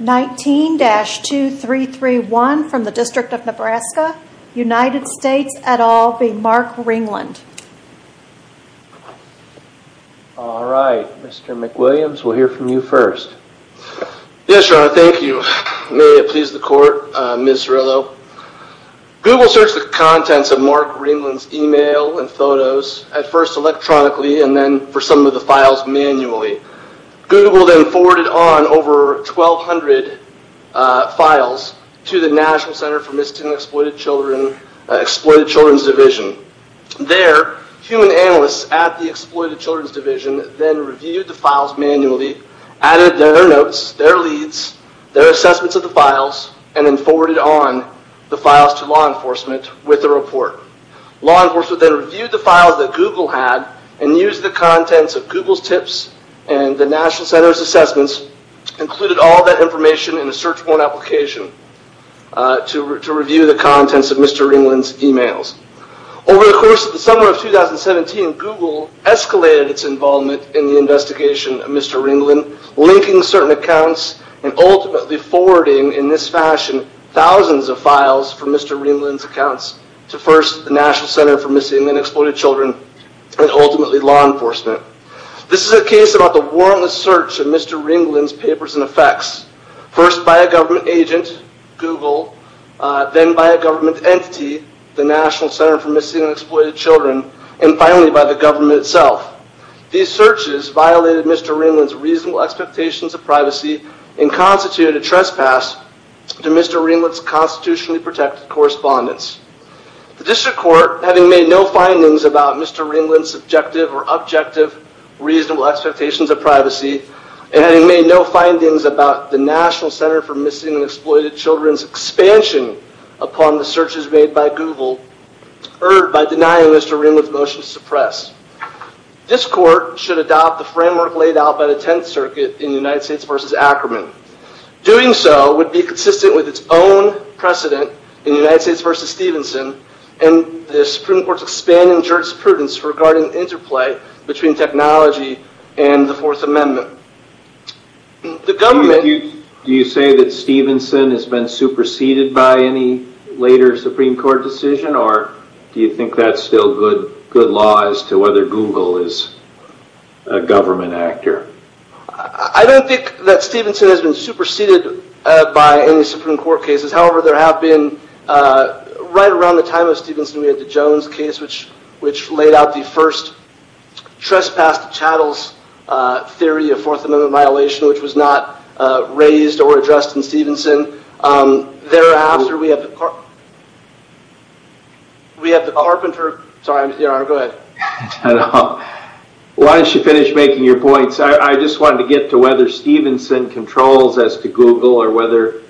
19-2331 from the District of Nebraska, United States et al. v. Mark Ringland All right, Mr. McWilliams, we'll hear from you first. Yes, Your Honor, thank you. May it please the Court, Ms. Cerullo. Google searched the contents of Mark Ringland's email and photos, at first electronically and then for some of the files manually. Google then forwarded on over 1,200 files to the National Center for Missing and Exploited Children's Division. There, human analysts at the Exploited Children's Division then reviewed the files manually, added their notes, their leads, their assessments of the files, and then forwarded on the files to law enforcement with a report. Law enforcement then reviewed the files that Google had and used the contents of Google's tips and the National Center's assessments, included all that information in a search warrant application to review the contents of Mr. Ringland's emails. Over the course of the summer of 2017, Google escalated its involvement in the investigation of Mr. Ringland, linking certain accounts and ultimately forwarding, in this fashion, thousands of files from Mr. Ringland's accounts to, first, the National Center for Missing and Exploited Children, and ultimately law enforcement. This is a case about the warrantless search of Mr. Ringland's papers and effects, first by a government agent, Google, then by a government entity, the National Center for Missing and Exploited Children, and finally by the government itself. These searches violated Mr. Ringland's reasonable expectations of privacy and constituted a trespass to Mr. Ringland's constitutionally protected correspondence. The district court, having made no findings about Mr. Ringland's subjective or objective reasonable expectations of privacy, and having made no findings about the National Center for Missing and Exploited Children's expansion upon the searches made by Google, erred by denying Mr. Ringland's motion to suppress. This court should adopt the framework laid out by the Tenth Circuit in the United States v. Ackerman. Doing so would be consistent with its own precedent in the United States v. Stevenson and the Supreme Court's expanding jurisprudence regarding interplay between technology and the Fourth Amendment. Do you say that Stevenson has been superseded by any later Supreme Court decision, or do you think that's still good law as to whether Google is a government actor? I don't think that Stevenson has been superseded by any Supreme Court cases. However, there have been, right around the time of Stevenson, we had the Jones case, which laid out the first trespass to chattels theory of Fourth Amendment violation, which was not raised or addressed in Stevenson. Thereafter, we have the Carpenter… Sorry, go ahead. Why don't you finish making your points? I just wanted to get to whether Stevenson controls as to Google, or whether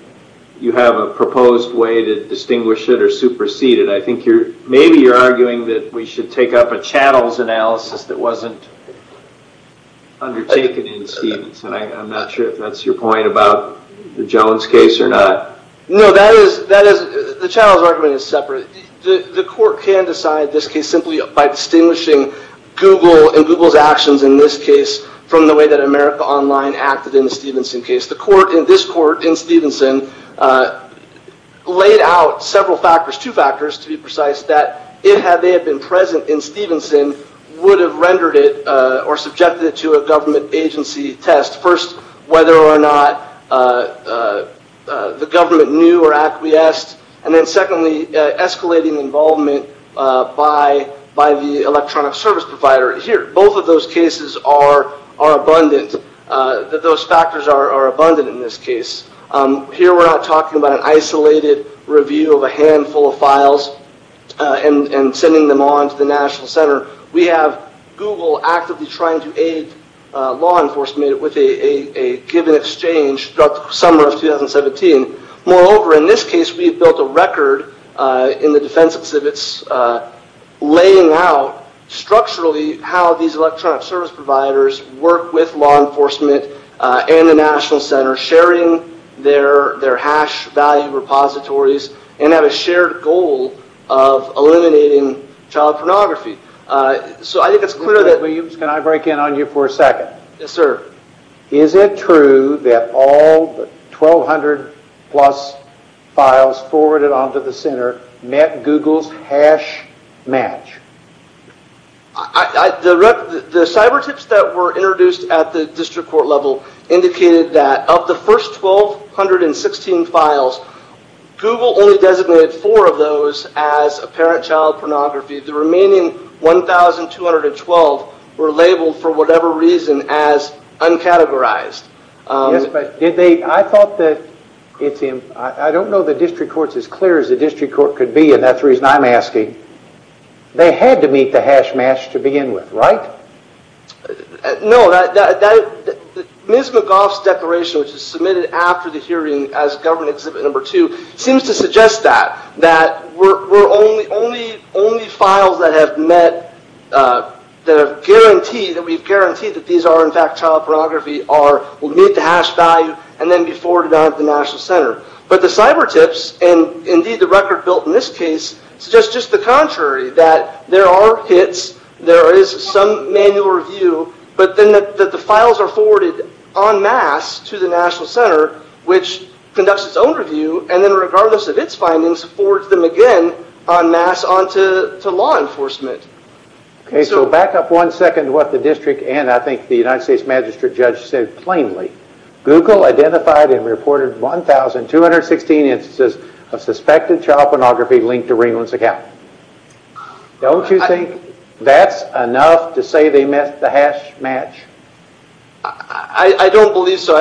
you have a proposed way to distinguish it or supersede it. I think maybe you're arguing that we should take up a chattels analysis that wasn't undertaken in Stevenson. I'm not sure if that's your point about the Jones case or not. No, the chattels argument is separate. The court can decide this case simply by distinguishing Google and Google's actions in this case from the way that America Online acted in the Stevenson case. The court in this court in Stevenson laid out several factors, two factors to be precise, that if they had been present in Stevenson, would have rendered it or subjected it to a government agency test. First, whether or not the government knew or acquiesced, and then secondly, escalating involvement by the electronic service provider here. Both of those cases are abundant. Those factors are abundant in this case. Here we're not talking about an isolated review of a handful of files and sending them on to the National Center. We have Google actively trying to aid law enforcement with a given exchange throughout the summer of 2017. Moreover, in this case, we have built a record in the defense exhibits laying out structurally how these electronic service providers work with law enforcement and the National Center, sharing their hash value repositories and have a shared goal of eliminating child pornography. So I think it's clear that... Can I break in on you for a second? Yes, sir. Is it true that all 1,200 plus files forwarded on to the Center met Google's hash match? The cyber tips that were introduced at the district court level indicated that of the first 1,216 files, Google only designated four of those as apparent child pornography. The remaining 1,212 were labeled for whatever reason as uncategorized. Yes, but I thought that... I don't know the district court's as clear as the district court could be and that's the reason I'm asking. They had to meet the hash match to begin with, right? No. Ms. McGough's declaration, which was submitted after the hearing as government exhibit number two, seems to suggest that we're only... Only files that have met the guarantee, that we've guaranteed that these are in fact child pornography will meet the hash value and then be forwarded on to the National Center. But the cyber tips, and indeed the record built in this case, suggests just the contrary, that there are hits, there is some manual review, but then that the files are forwarded en masse to the National Center, which conducts its own review, and then regardless of its findings, forwards them again en masse on to law enforcement. Okay, so back up one second to what the district and I think the United States magistrate judge said plainly. Google identified and reported 1,216 instances of suspected child pornography linked to Ringland's account. Don't you think that's enough to say they met the hash match? I don't believe so.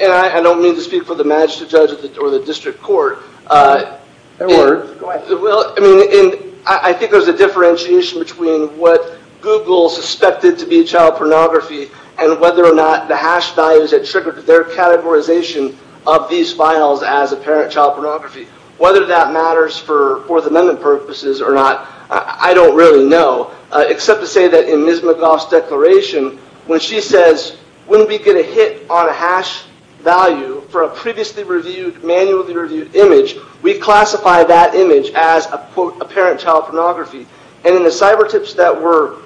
And I don't mean to speak for the magistrate judge or the district court. Edward, go ahead. I think there's a differentiation between what Google suspected to be child pornography and whether or not the hash values had triggered their categorization of these files as apparent child pornography. Whether that matters for Fourth Amendment purposes or not, I don't really know. Except to say that in Ms. McGough's declaration, when she says, when we get a hit on a hash value for a previously reviewed, manually reviewed image, we classify that image as, quote, apparent child pornography. And in the cyber tips that were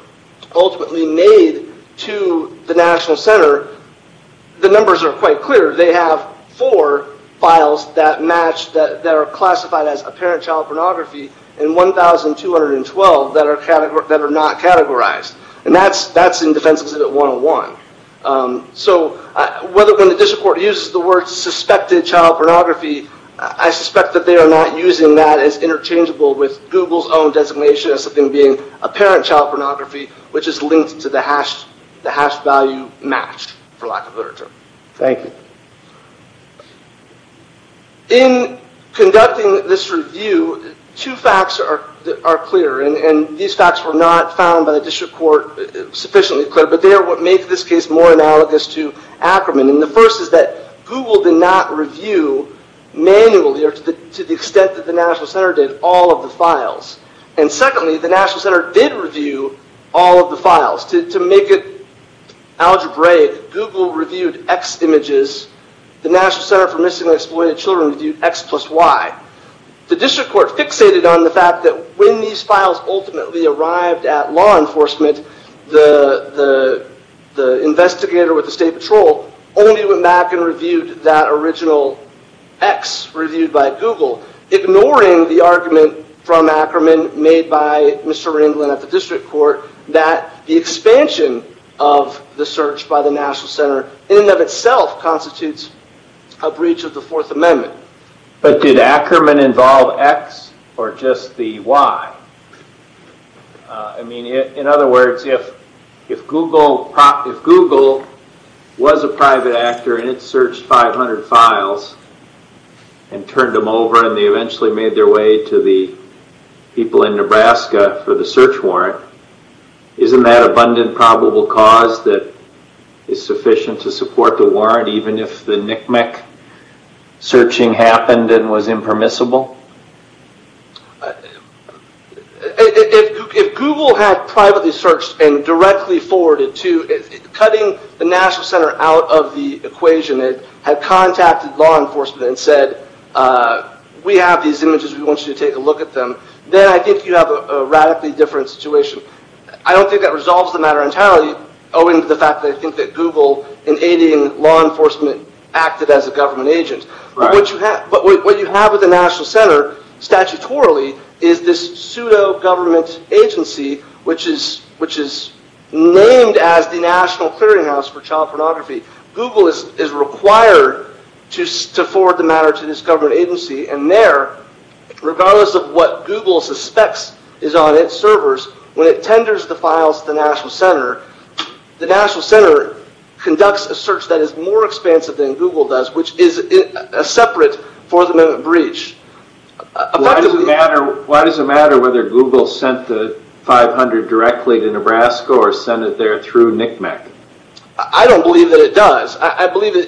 ultimately made to the National Center, the numbers are quite clear. They have four files that are classified as apparent child pornography and 1,212 that are not categorized. And that's in Defense Exhibit 101. So when the district court uses the word suspected child pornography, I suspect that they are not using that as interchangeable with Google's own designation as something being apparent child pornography, which is linked to the hash value match, for lack of a better term. Thank you. In conducting this review, two facts are clear. And these facts were not found by the district court sufficiently clear, but they are what make this case more analogous to Ackerman. And the first is that Google did not review manually, or to the extent that the National Center did, all of the files. And secondly, the National Center did review all of the files. To make it algebraic, Google reviewed X images. The National Center for Missing and Exploited Children reviewed X plus Y. The district court fixated on the fact that when these files ultimately arrived at law enforcement, the investigator with the state patrol only went back and reviewed that original X reviewed by Google, ignoring the argument from Ackerman made by Mr. Ringland at the district court that the expansion of the search by the National Center in and of itself constitutes a breach of the Fourth Amendment. But did Ackerman involve X or just the Y? I mean, in other words, if Google was a private actor and it searched 500 files and turned them over, and they eventually made their way to the people in Nebraska for the search warrant, isn't that abundant probable cause that is sufficient to support the warrant, even if the knick-knack searching happened and was impermissible? If Google had privately searched and directly forwarded to, cutting the National Center out of the equation, had contacted law enforcement and said, we have these images, we want you to take a look at them, then I think you have a radically different situation. I don't think that resolves the matter entirely, owing to the fact that I think that Google, in aiding law enforcement, acted as a government agent. But what you have with the National Center, statutorily, is this pseudo-government agency which is named as the National Clearinghouse for Child Pornography. Google is required to forward the matter to this government agency, and there, regardless of what Google suspects is on its servers, when it tenders the files to the National Center, the National Center conducts a search that is more expansive than Google does, which is a separate Fourth Amendment breach. Why does it matter whether Google sent the 500 directly to Nebraska or sent it there through knick-knack? I don't believe that it does.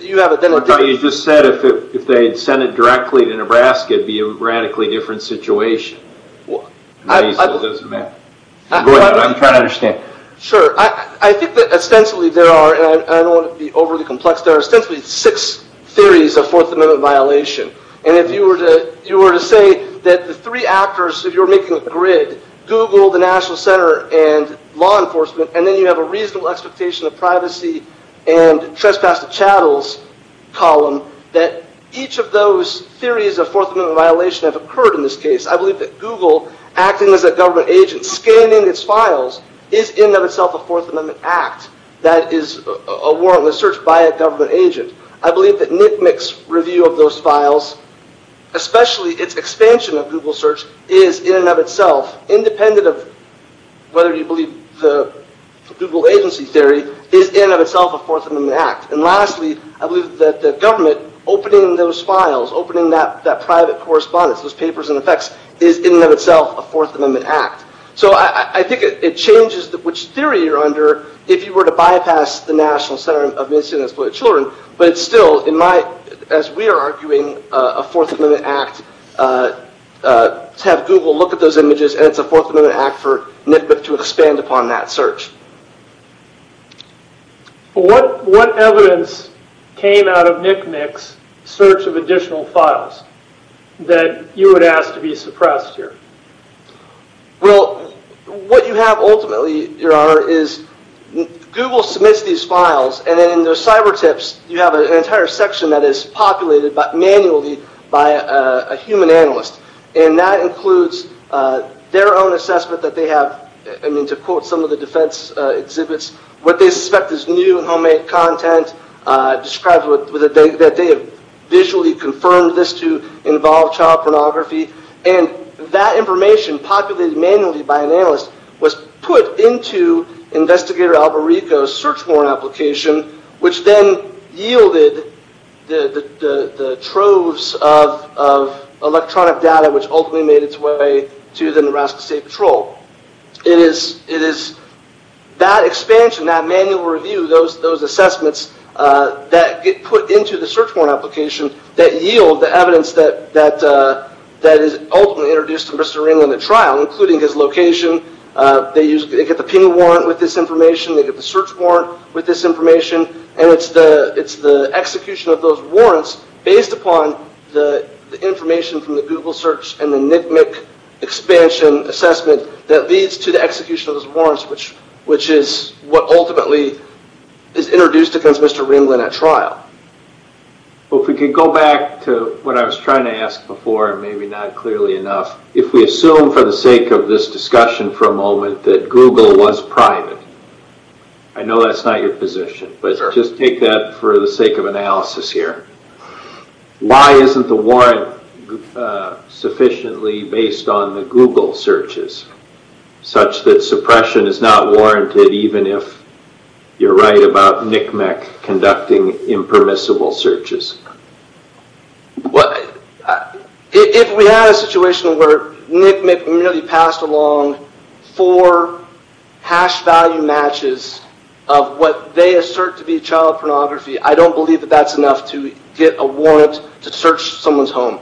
You just said if they had sent it directly to Nebraska, it would be a radically different situation. I'm trying to understand. Sure. I think that, ostensibly, there are, and I don't want to be overly complex, there are ostensibly six theories of Fourth Amendment violation. And if you were to say that the three actors, if you were making a grid, Google, the National Center, and law enforcement, and then you have a reasonable expectation of privacy and trespass to chattels column, that each of those theories of Fourth Amendment violation have occurred in this case. I believe that Google, acting as a government agent, scanning its files, is in and of itself a Fourth Amendment act that is a warrantless search by a government agent. I believe that knick-knack's review of those files, especially its expansion of Google search, is in and of itself, independent of whether you believe the Google agency theory, is in and of itself a Fourth Amendment act. And lastly, I believe that the government opening those files, opening that private correspondence, those papers and effects, is in and of itself a Fourth Amendment act. So I think it changes which theory you're under if you were to bypass the National Center of Missing and Exploited Children, but it's still, as we are arguing, a Fourth Amendment act to have Google look at those images, and it's a Fourth Amendment act for NCBIP to expand upon that search. What evidence came out of knick-knack's search of additional files that you would ask to be suppressed here? Well, what you have ultimately, Your Honor, is Google submits these files, and then in those cyber tips, you have an entire section that is populated manually by a human analyst. And that includes their own assessment that they have, to quote some of the defense exhibits, what they suspect is new and homemade content described that they have visually confirmed this to involve child pornography. And that information populated manually by an analyst was put into Investigator Albarico's search warrant application, which then yielded the troves of electronic data which ultimately made its way to the Nebraska State Patrol. It is that expansion, that manual review, those assessments that get put into the search warrant application that yield the evidence that is ultimately introduced to Mr. Ringland at trial, including his location. They get the pending warrant with this information, they get the search warrant with this information, and it's the execution of those warrants based upon the information from the Google search and the NCMEC expansion assessment that leads to the execution of those warrants, which is what ultimately is introduced against Mr. Ringland at trial. Well, if we could go back to what I was trying to ask before, and maybe not clearly enough, if we assume for the sake of this discussion for a moment that Google was private, I know that's not your position, but just take that for the sake of analysis here. Why isn't the warrant sufficiently based on the Google searches such that suppression is not warranted even if you're right about NCMEC conducting impermissible searches? If we had a situation where NCMEC merely passed along four hash value matches of what they assert to be child pornography, I don't believe that that's enough to get a warrant to search someone's home.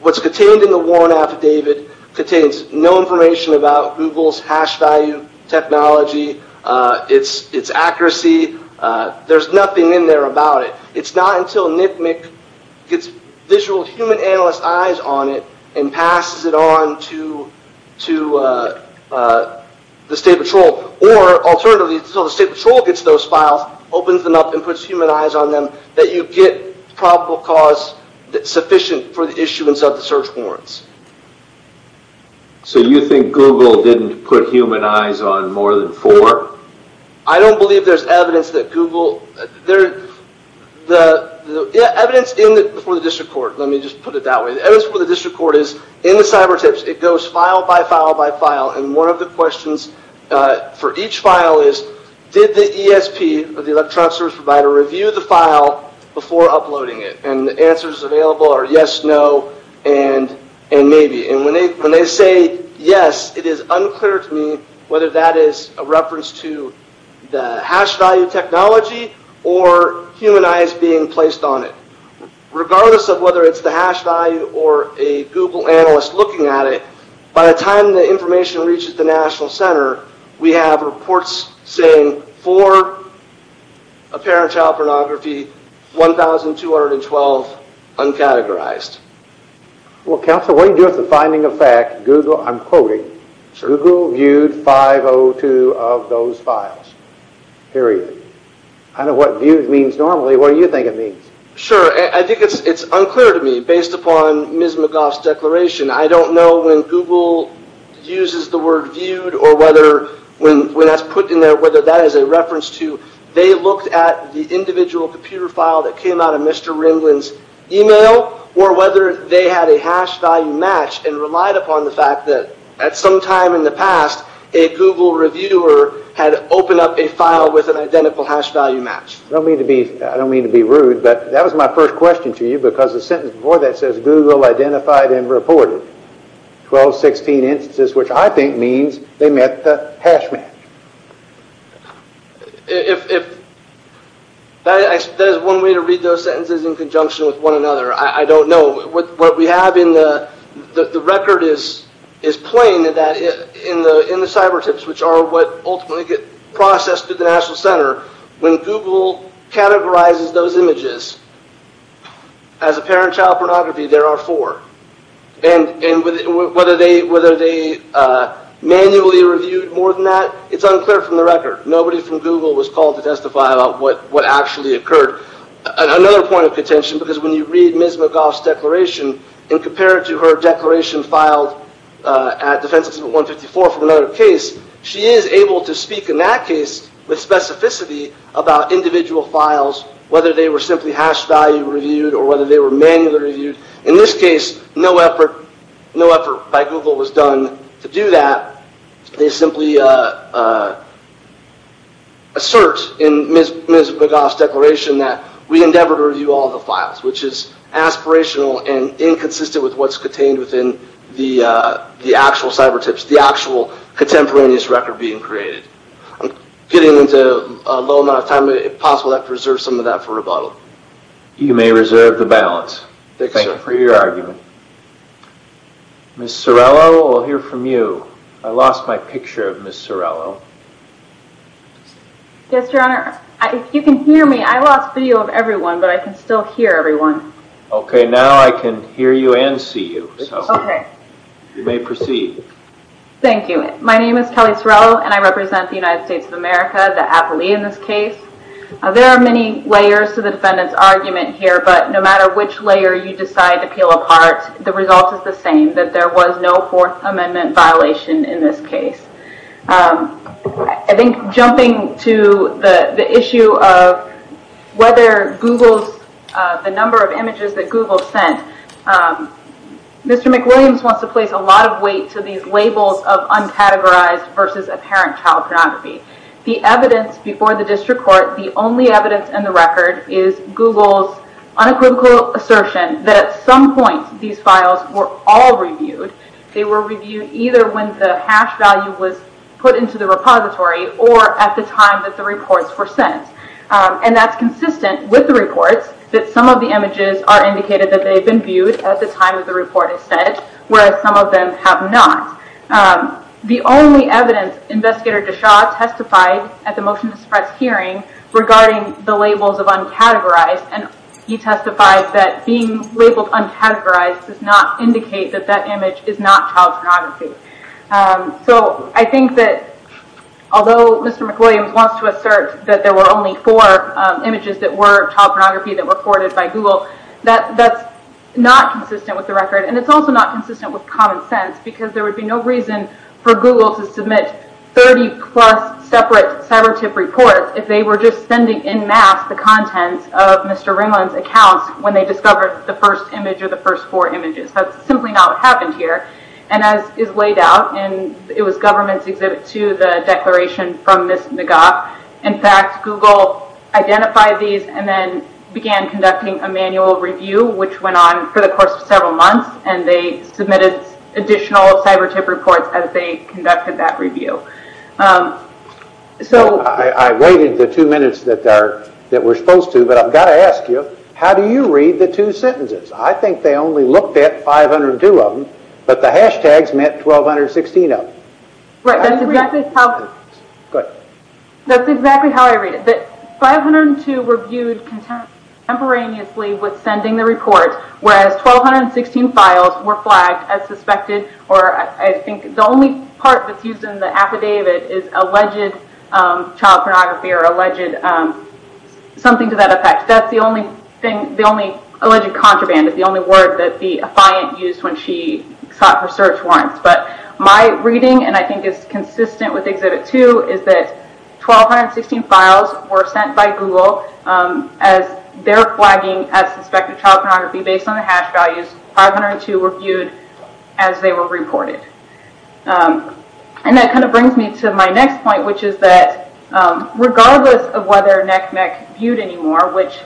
What's contained in the warrant affidavit contains no information about Google's hash value technology, its accuracy, there's nothing in there about it. It's not until NCMEC gets visual human analyst eyes on it and passes it on to the state patrol, or alternatively until the state patrol gets those files, opens them up and puts human eyes on them, that you get probable cause sufficient for the issuance of the search warrants. So you think Google didn't put human eyes on more than four? I don't believe there's evidence that Google... The evidence before the district court, let me just put it that way, the evidence before the district court is in the cyber tips, it goes file by file by file and one of the questions for each file is did the ESP, or the electronic service provider, review the file before uploading it? And the answers available are yes, no, and maybe. And when they say yes, it is unclear to me whether that is a reference to the hash value technology or human eyes being placed on it. Regardless of whether it's the hash value or a Google analyst looking at it, by the time the information reaches the National Center, we have reports saying for apparent child pornography 1,212 uncategorized. Well counsel, what do you do with the finding of fact, Google, I'm quoting, Google viewed 502 of those files. Period. I don't know what viewed means normally, what do you think it means? Sure, I think it's unclear to me, based upon Ms. McGough's declaration, I don't know when Google uses the word viewed or whether when that's put in there, whether that is a reference to they looked at the individual computer file that came out of Mr. Ringland's email, or whether they had a hash value match and relied upon the fact that at some time in the past, a Google reviewer had opened up a file with an identical hash value match. I don't mean to be rude, but that was my first question to you, because the sentence before that says Google identified and reported 1,216 instances, which I think means they met the hash match. If that is one way to read those sentences in conjunction with one another, I don't know. The record is plain that in the cyber tips, which are what ultimately get processed through the National Center, when Google categorizes those images as apparent child pornography, there are four. Whether they manually reviewed more than that, it's unclear from the record. Nobody from Google was called to testify about what actually occurred. Another point of contention, because when you read Ms. McGough's declaration and compare it to her declaration filed at Defense Exhibit 154 from another case, she is able to speak in that case with specificity about individual files, whether they were simply hash value reviewed or whether they were manually reviewed. In this case, no effort by Google was done to do that. They simply assert in Ms. McGough's declaration that we endeavor to review all the files, which is aspirational and inconsistent with what's contained within the actual cyber tips, the actual contemporaneous record being created. I'm getting into a low amount of time, but if possible, I'd like to reserve some of that for rebuttal. You may reserve the balance. Thank you for your argument. Ms. Sorello, we'll hear from you. I lost my picture of Ms. Sorello. Yes, Your Honor. If you can hear me, I lost video of everyone, but I can still hear everyone. Okay, now I can hear you and see you. You may proceed. Thank you. My name is Kelly Sorello, and I represent the United States of America, the appellee in this case. There are many layers to the defendant's argument here, but no matter which layer you decide to peel apart, the result is the same, that there was no Fourth Amendment violation in this case. I think jumping to the issue of whether Google's, the number of images that Google sent, Mr. McWilliams wants to place a lot of weight to these labels of uncategorized versus apparent child pornography. The evidence before the district court, the only evidence in the record is Google's unequivocal assertion that at some point these files were all reviewed. They were reviewed either when the hash value was put into the repository or at the time that the reports were sent. That's consistent with the reports, that some of the images are indicated that they've been viewed at the time that the report is sent, whereas some of them have not. The only evidence Investigator DeShaw testified at the motion to suppress hearing regarding the labels of uncategorized, and he testified that being labeled uncategorized does not indicate that that image is not child pornography. I think that although Mr. McWilliams wants to assert that there were only four images that were child pornography that were forwarded by Google, that's not consistent with the record, and it's also not consistent with common sense, because there would be no reason for Google to submit 30 plus separate cyber tip reports if they were just sending in mass the contents of Mr. Ringland's accounts when they discovered the first image or the first four images. That's simply not what happened here, and as is laid out, it was government's exhibit to the declaration from Ms. McGough. In fact, Google identified these and then began conducting a manual review which went on for the course of several months, and they submitted additional cyber tip reports as they I've waited the two minutes that we're supposed to, but I've got to ask you, how do you read the two sentences? I think they only looked at 502 of them, but the hashtags meant 1216 of them. Right, that's exactly how I read it. 502 were viewed contemporaneously with sending the report, whereas 1216 files were flagged as suspected, or I think the only part that's the affidavit is alleged child pornography or alleged something to that effect. That's the only thing, the only alleged contraband is the only word that the affiant used when she sought her search warrants, but my reading, and I think it's consistent with exhibit two, is that 1216 files were sent by Google as they're flagging as suspected child pornography based on the hash values. 502 were viewed as they were reported. That brings me to my next point, which is that regardless of whether NECMEC viewed anymore, which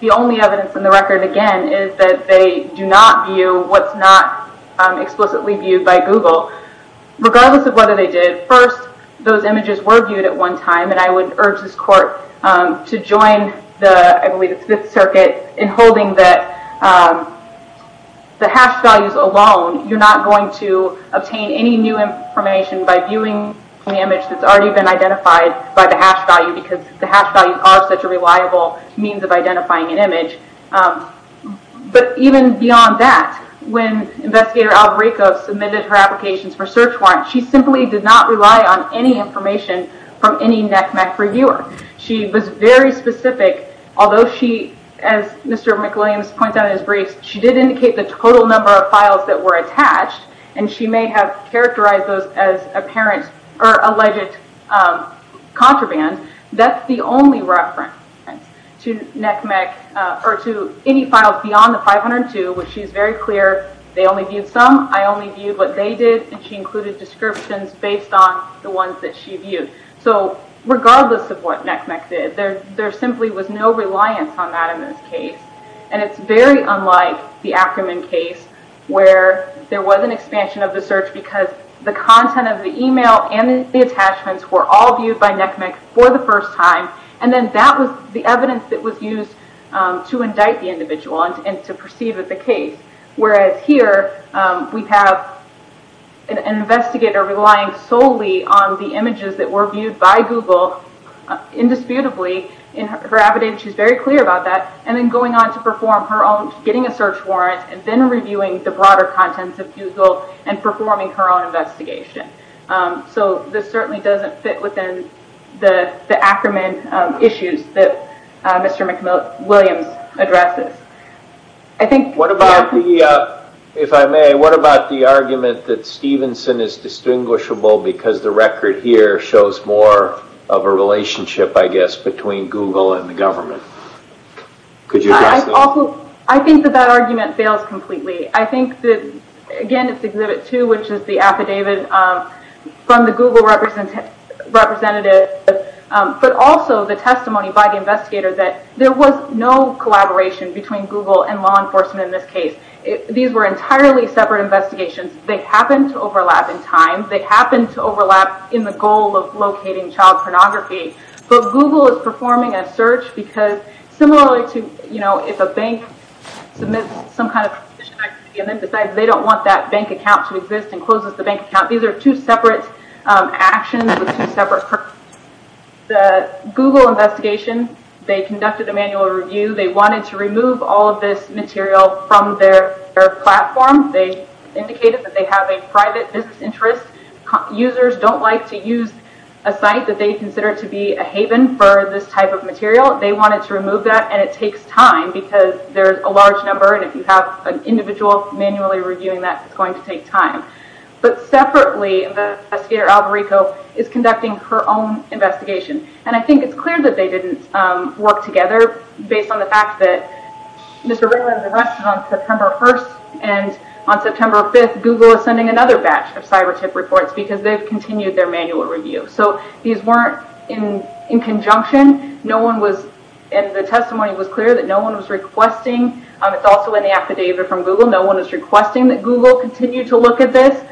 the only evidence in the record, again, is that they do not view what's not explicitly viewed by Google, regardless of whether they did, first, those images were viewed at one time, and I would urge this court to join the Fifth Circuit in holding that the hash values alone, you're not going to obtain any new information by viewing an image that's already been identified by the hash value because the hash values are such a reliable means of identifying an image, but even beyond that, when Investigator Albarico submitted her applications for search warrants, she simply did not rely on any information from any NECMEC reviewer. She was very specific, although she, as Mr. McWilliams points out in his briefs, she did indicate the total number of files that were attached, and she may have characterized those as apparent or alleged contraband. That's the only reference to NECMEC or to any files beyond the 502, which she's very clear they only viewed some, I only viewed what they did, and she included descriptions based on the ones that she viewed. So regardless of what And it's very unlike the Ackerman case where there was an expansion of the search because the content of the email and the attachments were all viewed by NECMEC for the first time, and then that was the evidence that was used to indict the individual and to perceive it the case. Whereas here we have an investigator relying solely on the images that were viewed by Google, indisputably, in her evidence she's very clear about that, and then going on to perform her own, getting a search warrant, and then reviewing the broader contents of Google and performing her own investigation. So this certainly doesn't fit within the Ackerman issues that Mr. McWilliams addresses. If I may, what about the argument that Stevenson is distinguishable because the record here shows more of a relationship, I guess, between Google and the government? Could you address that? I think that that argument fails completely. I think that, again, it's Exhibit 2, which is the affidavit from the Google representative but also the testimony by the investigator that there was no collaboration between Google and law enforcement in this case. These were entirely separate investigations. They happened to overlap in time. Google is performing a search because similarly to, you know, if a bank submits some kind of acquisition activity and then decides they don't want that bank account to exist and closes the bank account, these are two separate actions. The Google investigation, they conducted a manual review. They wanted to remove all of this material from their platform. They indicated that they have a private business interest. Users don't like to use a site that they consider to be a haven for this type of material. They wanted to remove that, and it takes time because there's a large number, and if you have an individual manually reviewing that, it's going to take time. But separately, the investigator, Albarico, is conducting her own investigation, and I think it's clear that they didn't work together based on the fact that Mr. Ringland's arrest was on September 1st, and on September 5th, Google is sending another batch of cyber tip reports because they've continued their manual review. So, these weren't in conjunction. No one was, and the testimony was clear that no one was requesting, it's also in the affidavit from Google, no one was requesting that Google continue to look at this.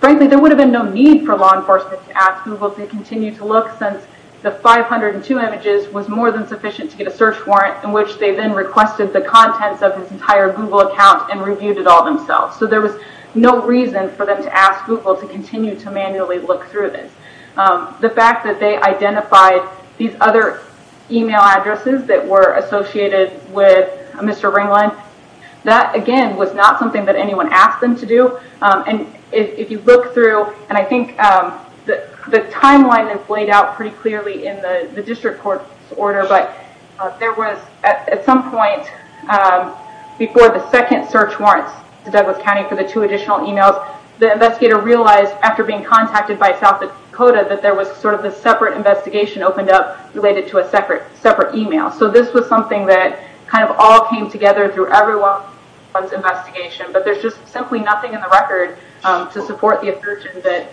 Frankly, there would have been no need for law enforcement to ask Google to continue to look since the 502 images was more than sufficient to get a search warrant in which they then requested the contents of his entire Google account and reviewed it all themselves. So, there was no reason for them to ask Google to continue to manually look through this. The fact that they identified these other email addresses that were associated with Mr. Ringland, that, again, was not something that anyone asked them to do, and if you look through, and I think the timeline is laid out pretty clearly in the district court's report, there was at some point before the second search warrants to Douglas County for the two additional emails, the investigator realized after being contacted by South Dakota that there was sort of a separate investigation opened up related to a separate email. So, this was something that kind of all came together through everyone's investigation, but there's just simply nothing in the record to support the assertion that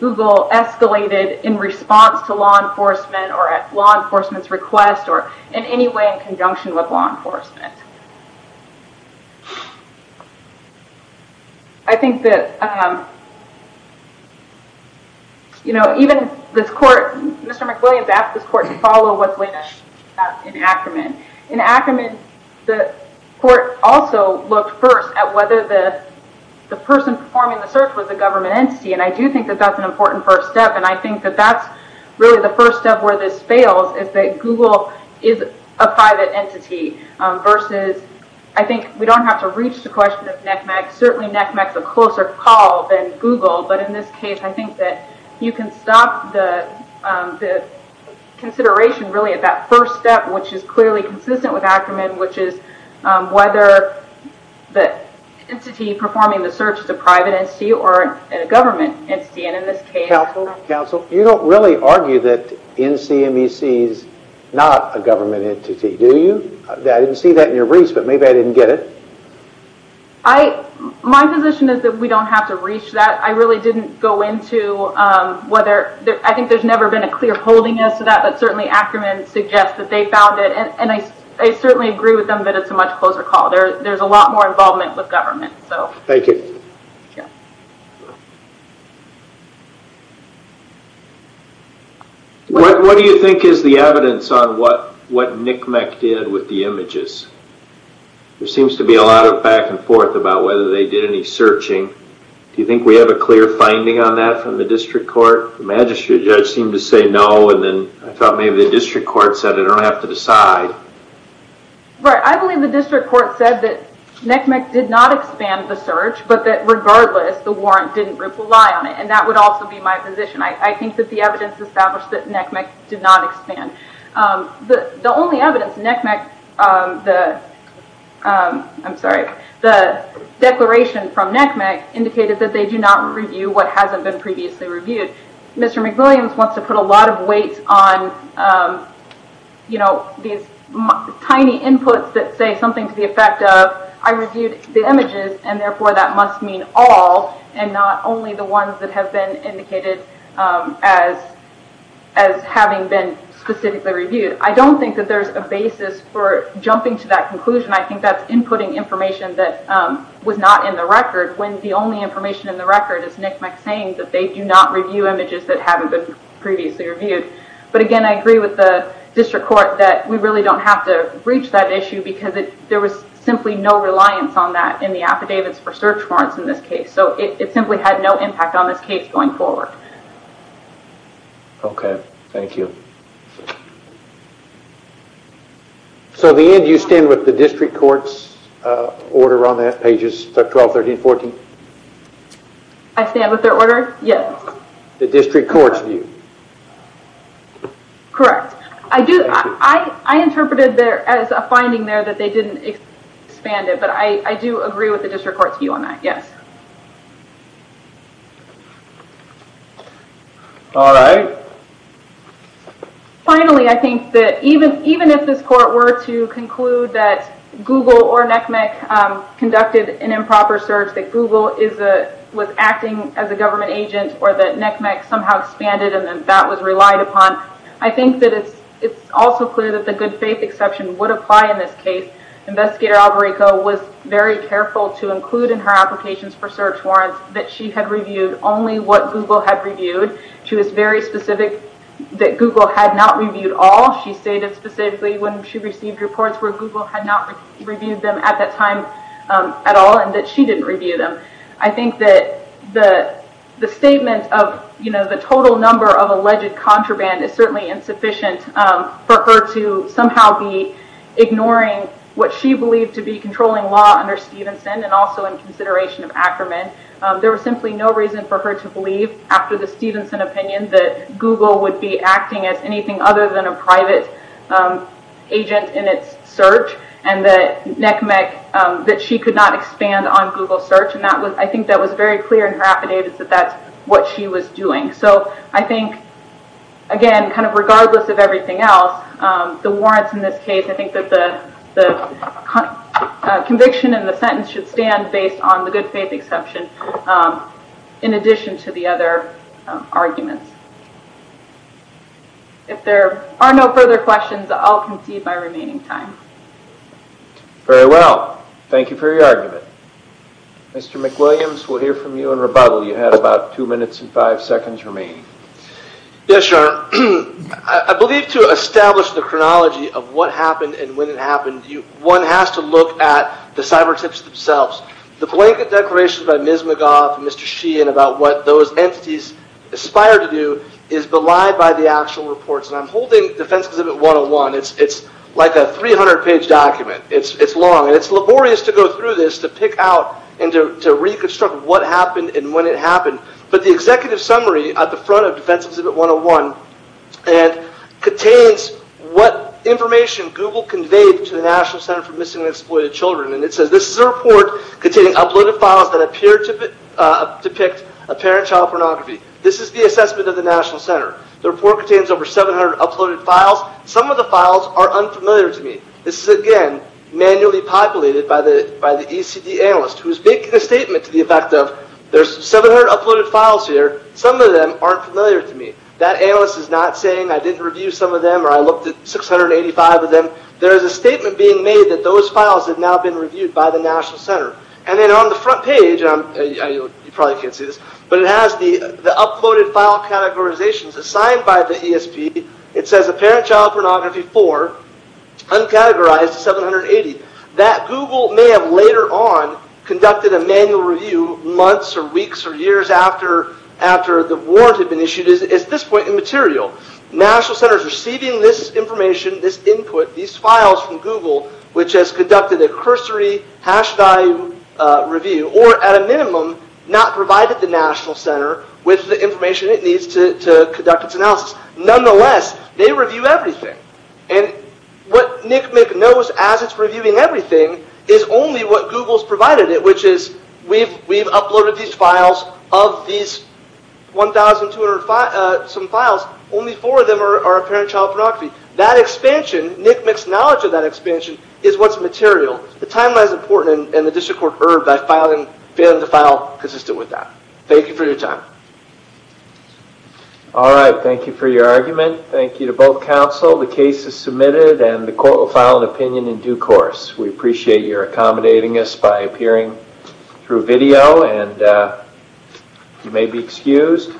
Google escalated in response to law enforcement or at law enforcement's request or in any way in conjunction with law enforcement. Even this court, Mr. McWilliams asked this court to follow what's laid out in Ackerman. In Ackerman, the court also looked first at whether the person performing the search was a government entity, and I do think that that's an important first step, and I think that that's really the first step where this fails is that Google is a private entity versus, I think we don't have to reach the question of NECMEC, certainly NECMEC's a closer call than Google, but in this case, I think that you can stop the consideration really at that first step, which is clearly consistent with Ackerman, which is whether the entity performing the search is a private entity or a government entity, and in this case... Counsel, you don't really argue that NECMEC is not a government entity, do you? I didn't see that in your briefs, but maybe I didn't get it. My position is that we don't have to reach that. I really didn't go into whether, I think there's never been a clear holding as to that, but certainly Ackerman suggests that they found it, and I certainly agree with them that it's a much closer call. There's a lot more involvement with government. Thank you. What do you think is the evidence on what NECMEC did with the images? There seems to be a lot of back and forth about whether they did any searching. Do you think we have a clear finding on that from the district court? The magistrate judge seemed to say no, and then I thought maybe the district court said I don't have to decide. Right. I believe the district court said that NECMEC did not expand the search, but that regardless, the warrant didn't rely on it, and that would also be my position. I think that the evidence established that NECMEC did not expand. The only evidence NECMEC, I'm sorry, the declaration from NECMEC indicated that they do not review what hasn't been previously reviewed. Mr. McWilliams wants to put a lot of weight on these tiny inputs that say something to the effect of I reviewed the images, and therefore that must mean all, and not only the ones that have been indicated as having been specifically reviewed. I don't think that there's a basis for jumping to that conclusion. I think that's inputting information that was not in the record, when the only information in the record is NECMEC saying that they do not review images that haven't been previously reviewed. But again, I agree with the district court that we really don't have to reach that issue because there was simply no reliance on that in the affidavits for search warrants in this case. So it simply had no impact on this case going forward. Okay. Thank you. So at the end, do you stand with the district court's order on that, pages 12, 13, 14? I stand with their order, yes. The district court's view? Correct. I interpreted there as a finding there that they didn't expand it, but I do agree with the district court's view on that, yes. All right. Finally, I think that even if this court were to conclude that Google or NECMEC conducted an improper search, that Google was acting as a government agent or that NECMEC somehow expanded and that that was relied upon, I think that it's also clear that the good faith exception would apply in this case. Investigator Albarico was very careful to include in her applications for search warrants that she had reviewed only what Google had reviewed. She was very specific that Google had not reviewed all. She stated specifically when she received reports where Google had not reviewed them at that time at all and that she didn't review them. I think that the statement of the total number of alleged contraband is certainly insufficient for her to somehow be ignoring what she believed to be controlling law under Stevenson and also in consideration of Ackerman. There was simply no reason for her to believe, after the Stevenson opinion, that Google would be acting as anything other than a private agent in its search and that NECMEC, that she could not expand on Google search. I think that was very clear in her affidavits that that's what she was doing. I think, again, regardless of everything else, the warrants in this case, I think that the conviction and the sentence should stand based on the good faith exception in addition to the other arguments. If there are no further questions, I'll concede my remaining time. Very well. Thank you for your argument. Mr. McWilliams, we'll hear from you in rebuttal. You have about two minutes and five seconds remaining. Yes, Your Honor. I believe to establish the chronology of what happened and when it happened, one has to look at the cyber tips themselves. The blanket declarations by Ms. McGough and Mr. Sheehan about what those entities aspire to do is belied by the actual reports. I'm holding Defense Exhibit 101. It's like a 300 page document. It's long and it's laborious to go through this to pick out and to reconstruct what happened and when it happened, but the executive summary at the front of Defense Exhibit 101 contains what information Google conveyed to the National Center for Missing and Exploited Children. It says, this is a report containing uploaded files that appear to depict apparent child pornography. This is the assessment of the National Center. The report contains over 700 uploaded files. Some of the files are unfamiliar to me. This is again manually populated by the ECD analyst who is making a statement to the effect of there's 700 uploaded files here. Some of them aren't familiar to me. That analyst is not saying I didn't review some of them or I looked at 685 of them. There is a statement being made that those files have now been reviewed by the National Center. On the front page, you probably can't see this, but it has the uploaded file categorizations assigned by the ESP. It says apparent child pornography 4 uncategorized 780. That Google may have later on conducted a manual review months or weeks or years after the warrant had been issued is at this point immaterial. National Center is receiving this information this input, these files from Google which has conducted a cursory hash value review or at a minimum not provided the National Center with the information it needs to conduct its analysis. Nonetheless, they review everything. What NCMEC knows as it's reviewing everything is only what Google's provided it which is we've uploaded these files of these 1,200 some files only 4 of them are apparent child pornography. That expansion, NCMEC's knowledge of that expansion is what's material. The timeline is important and the district court erred by failing to file consistent with that. Thank you for your time. Thank you for your argument. Thank you to both counsel. The case is submitted and the court will file an opinion in due course. We appreciate your accommodating us by appearing through video and you may be excused.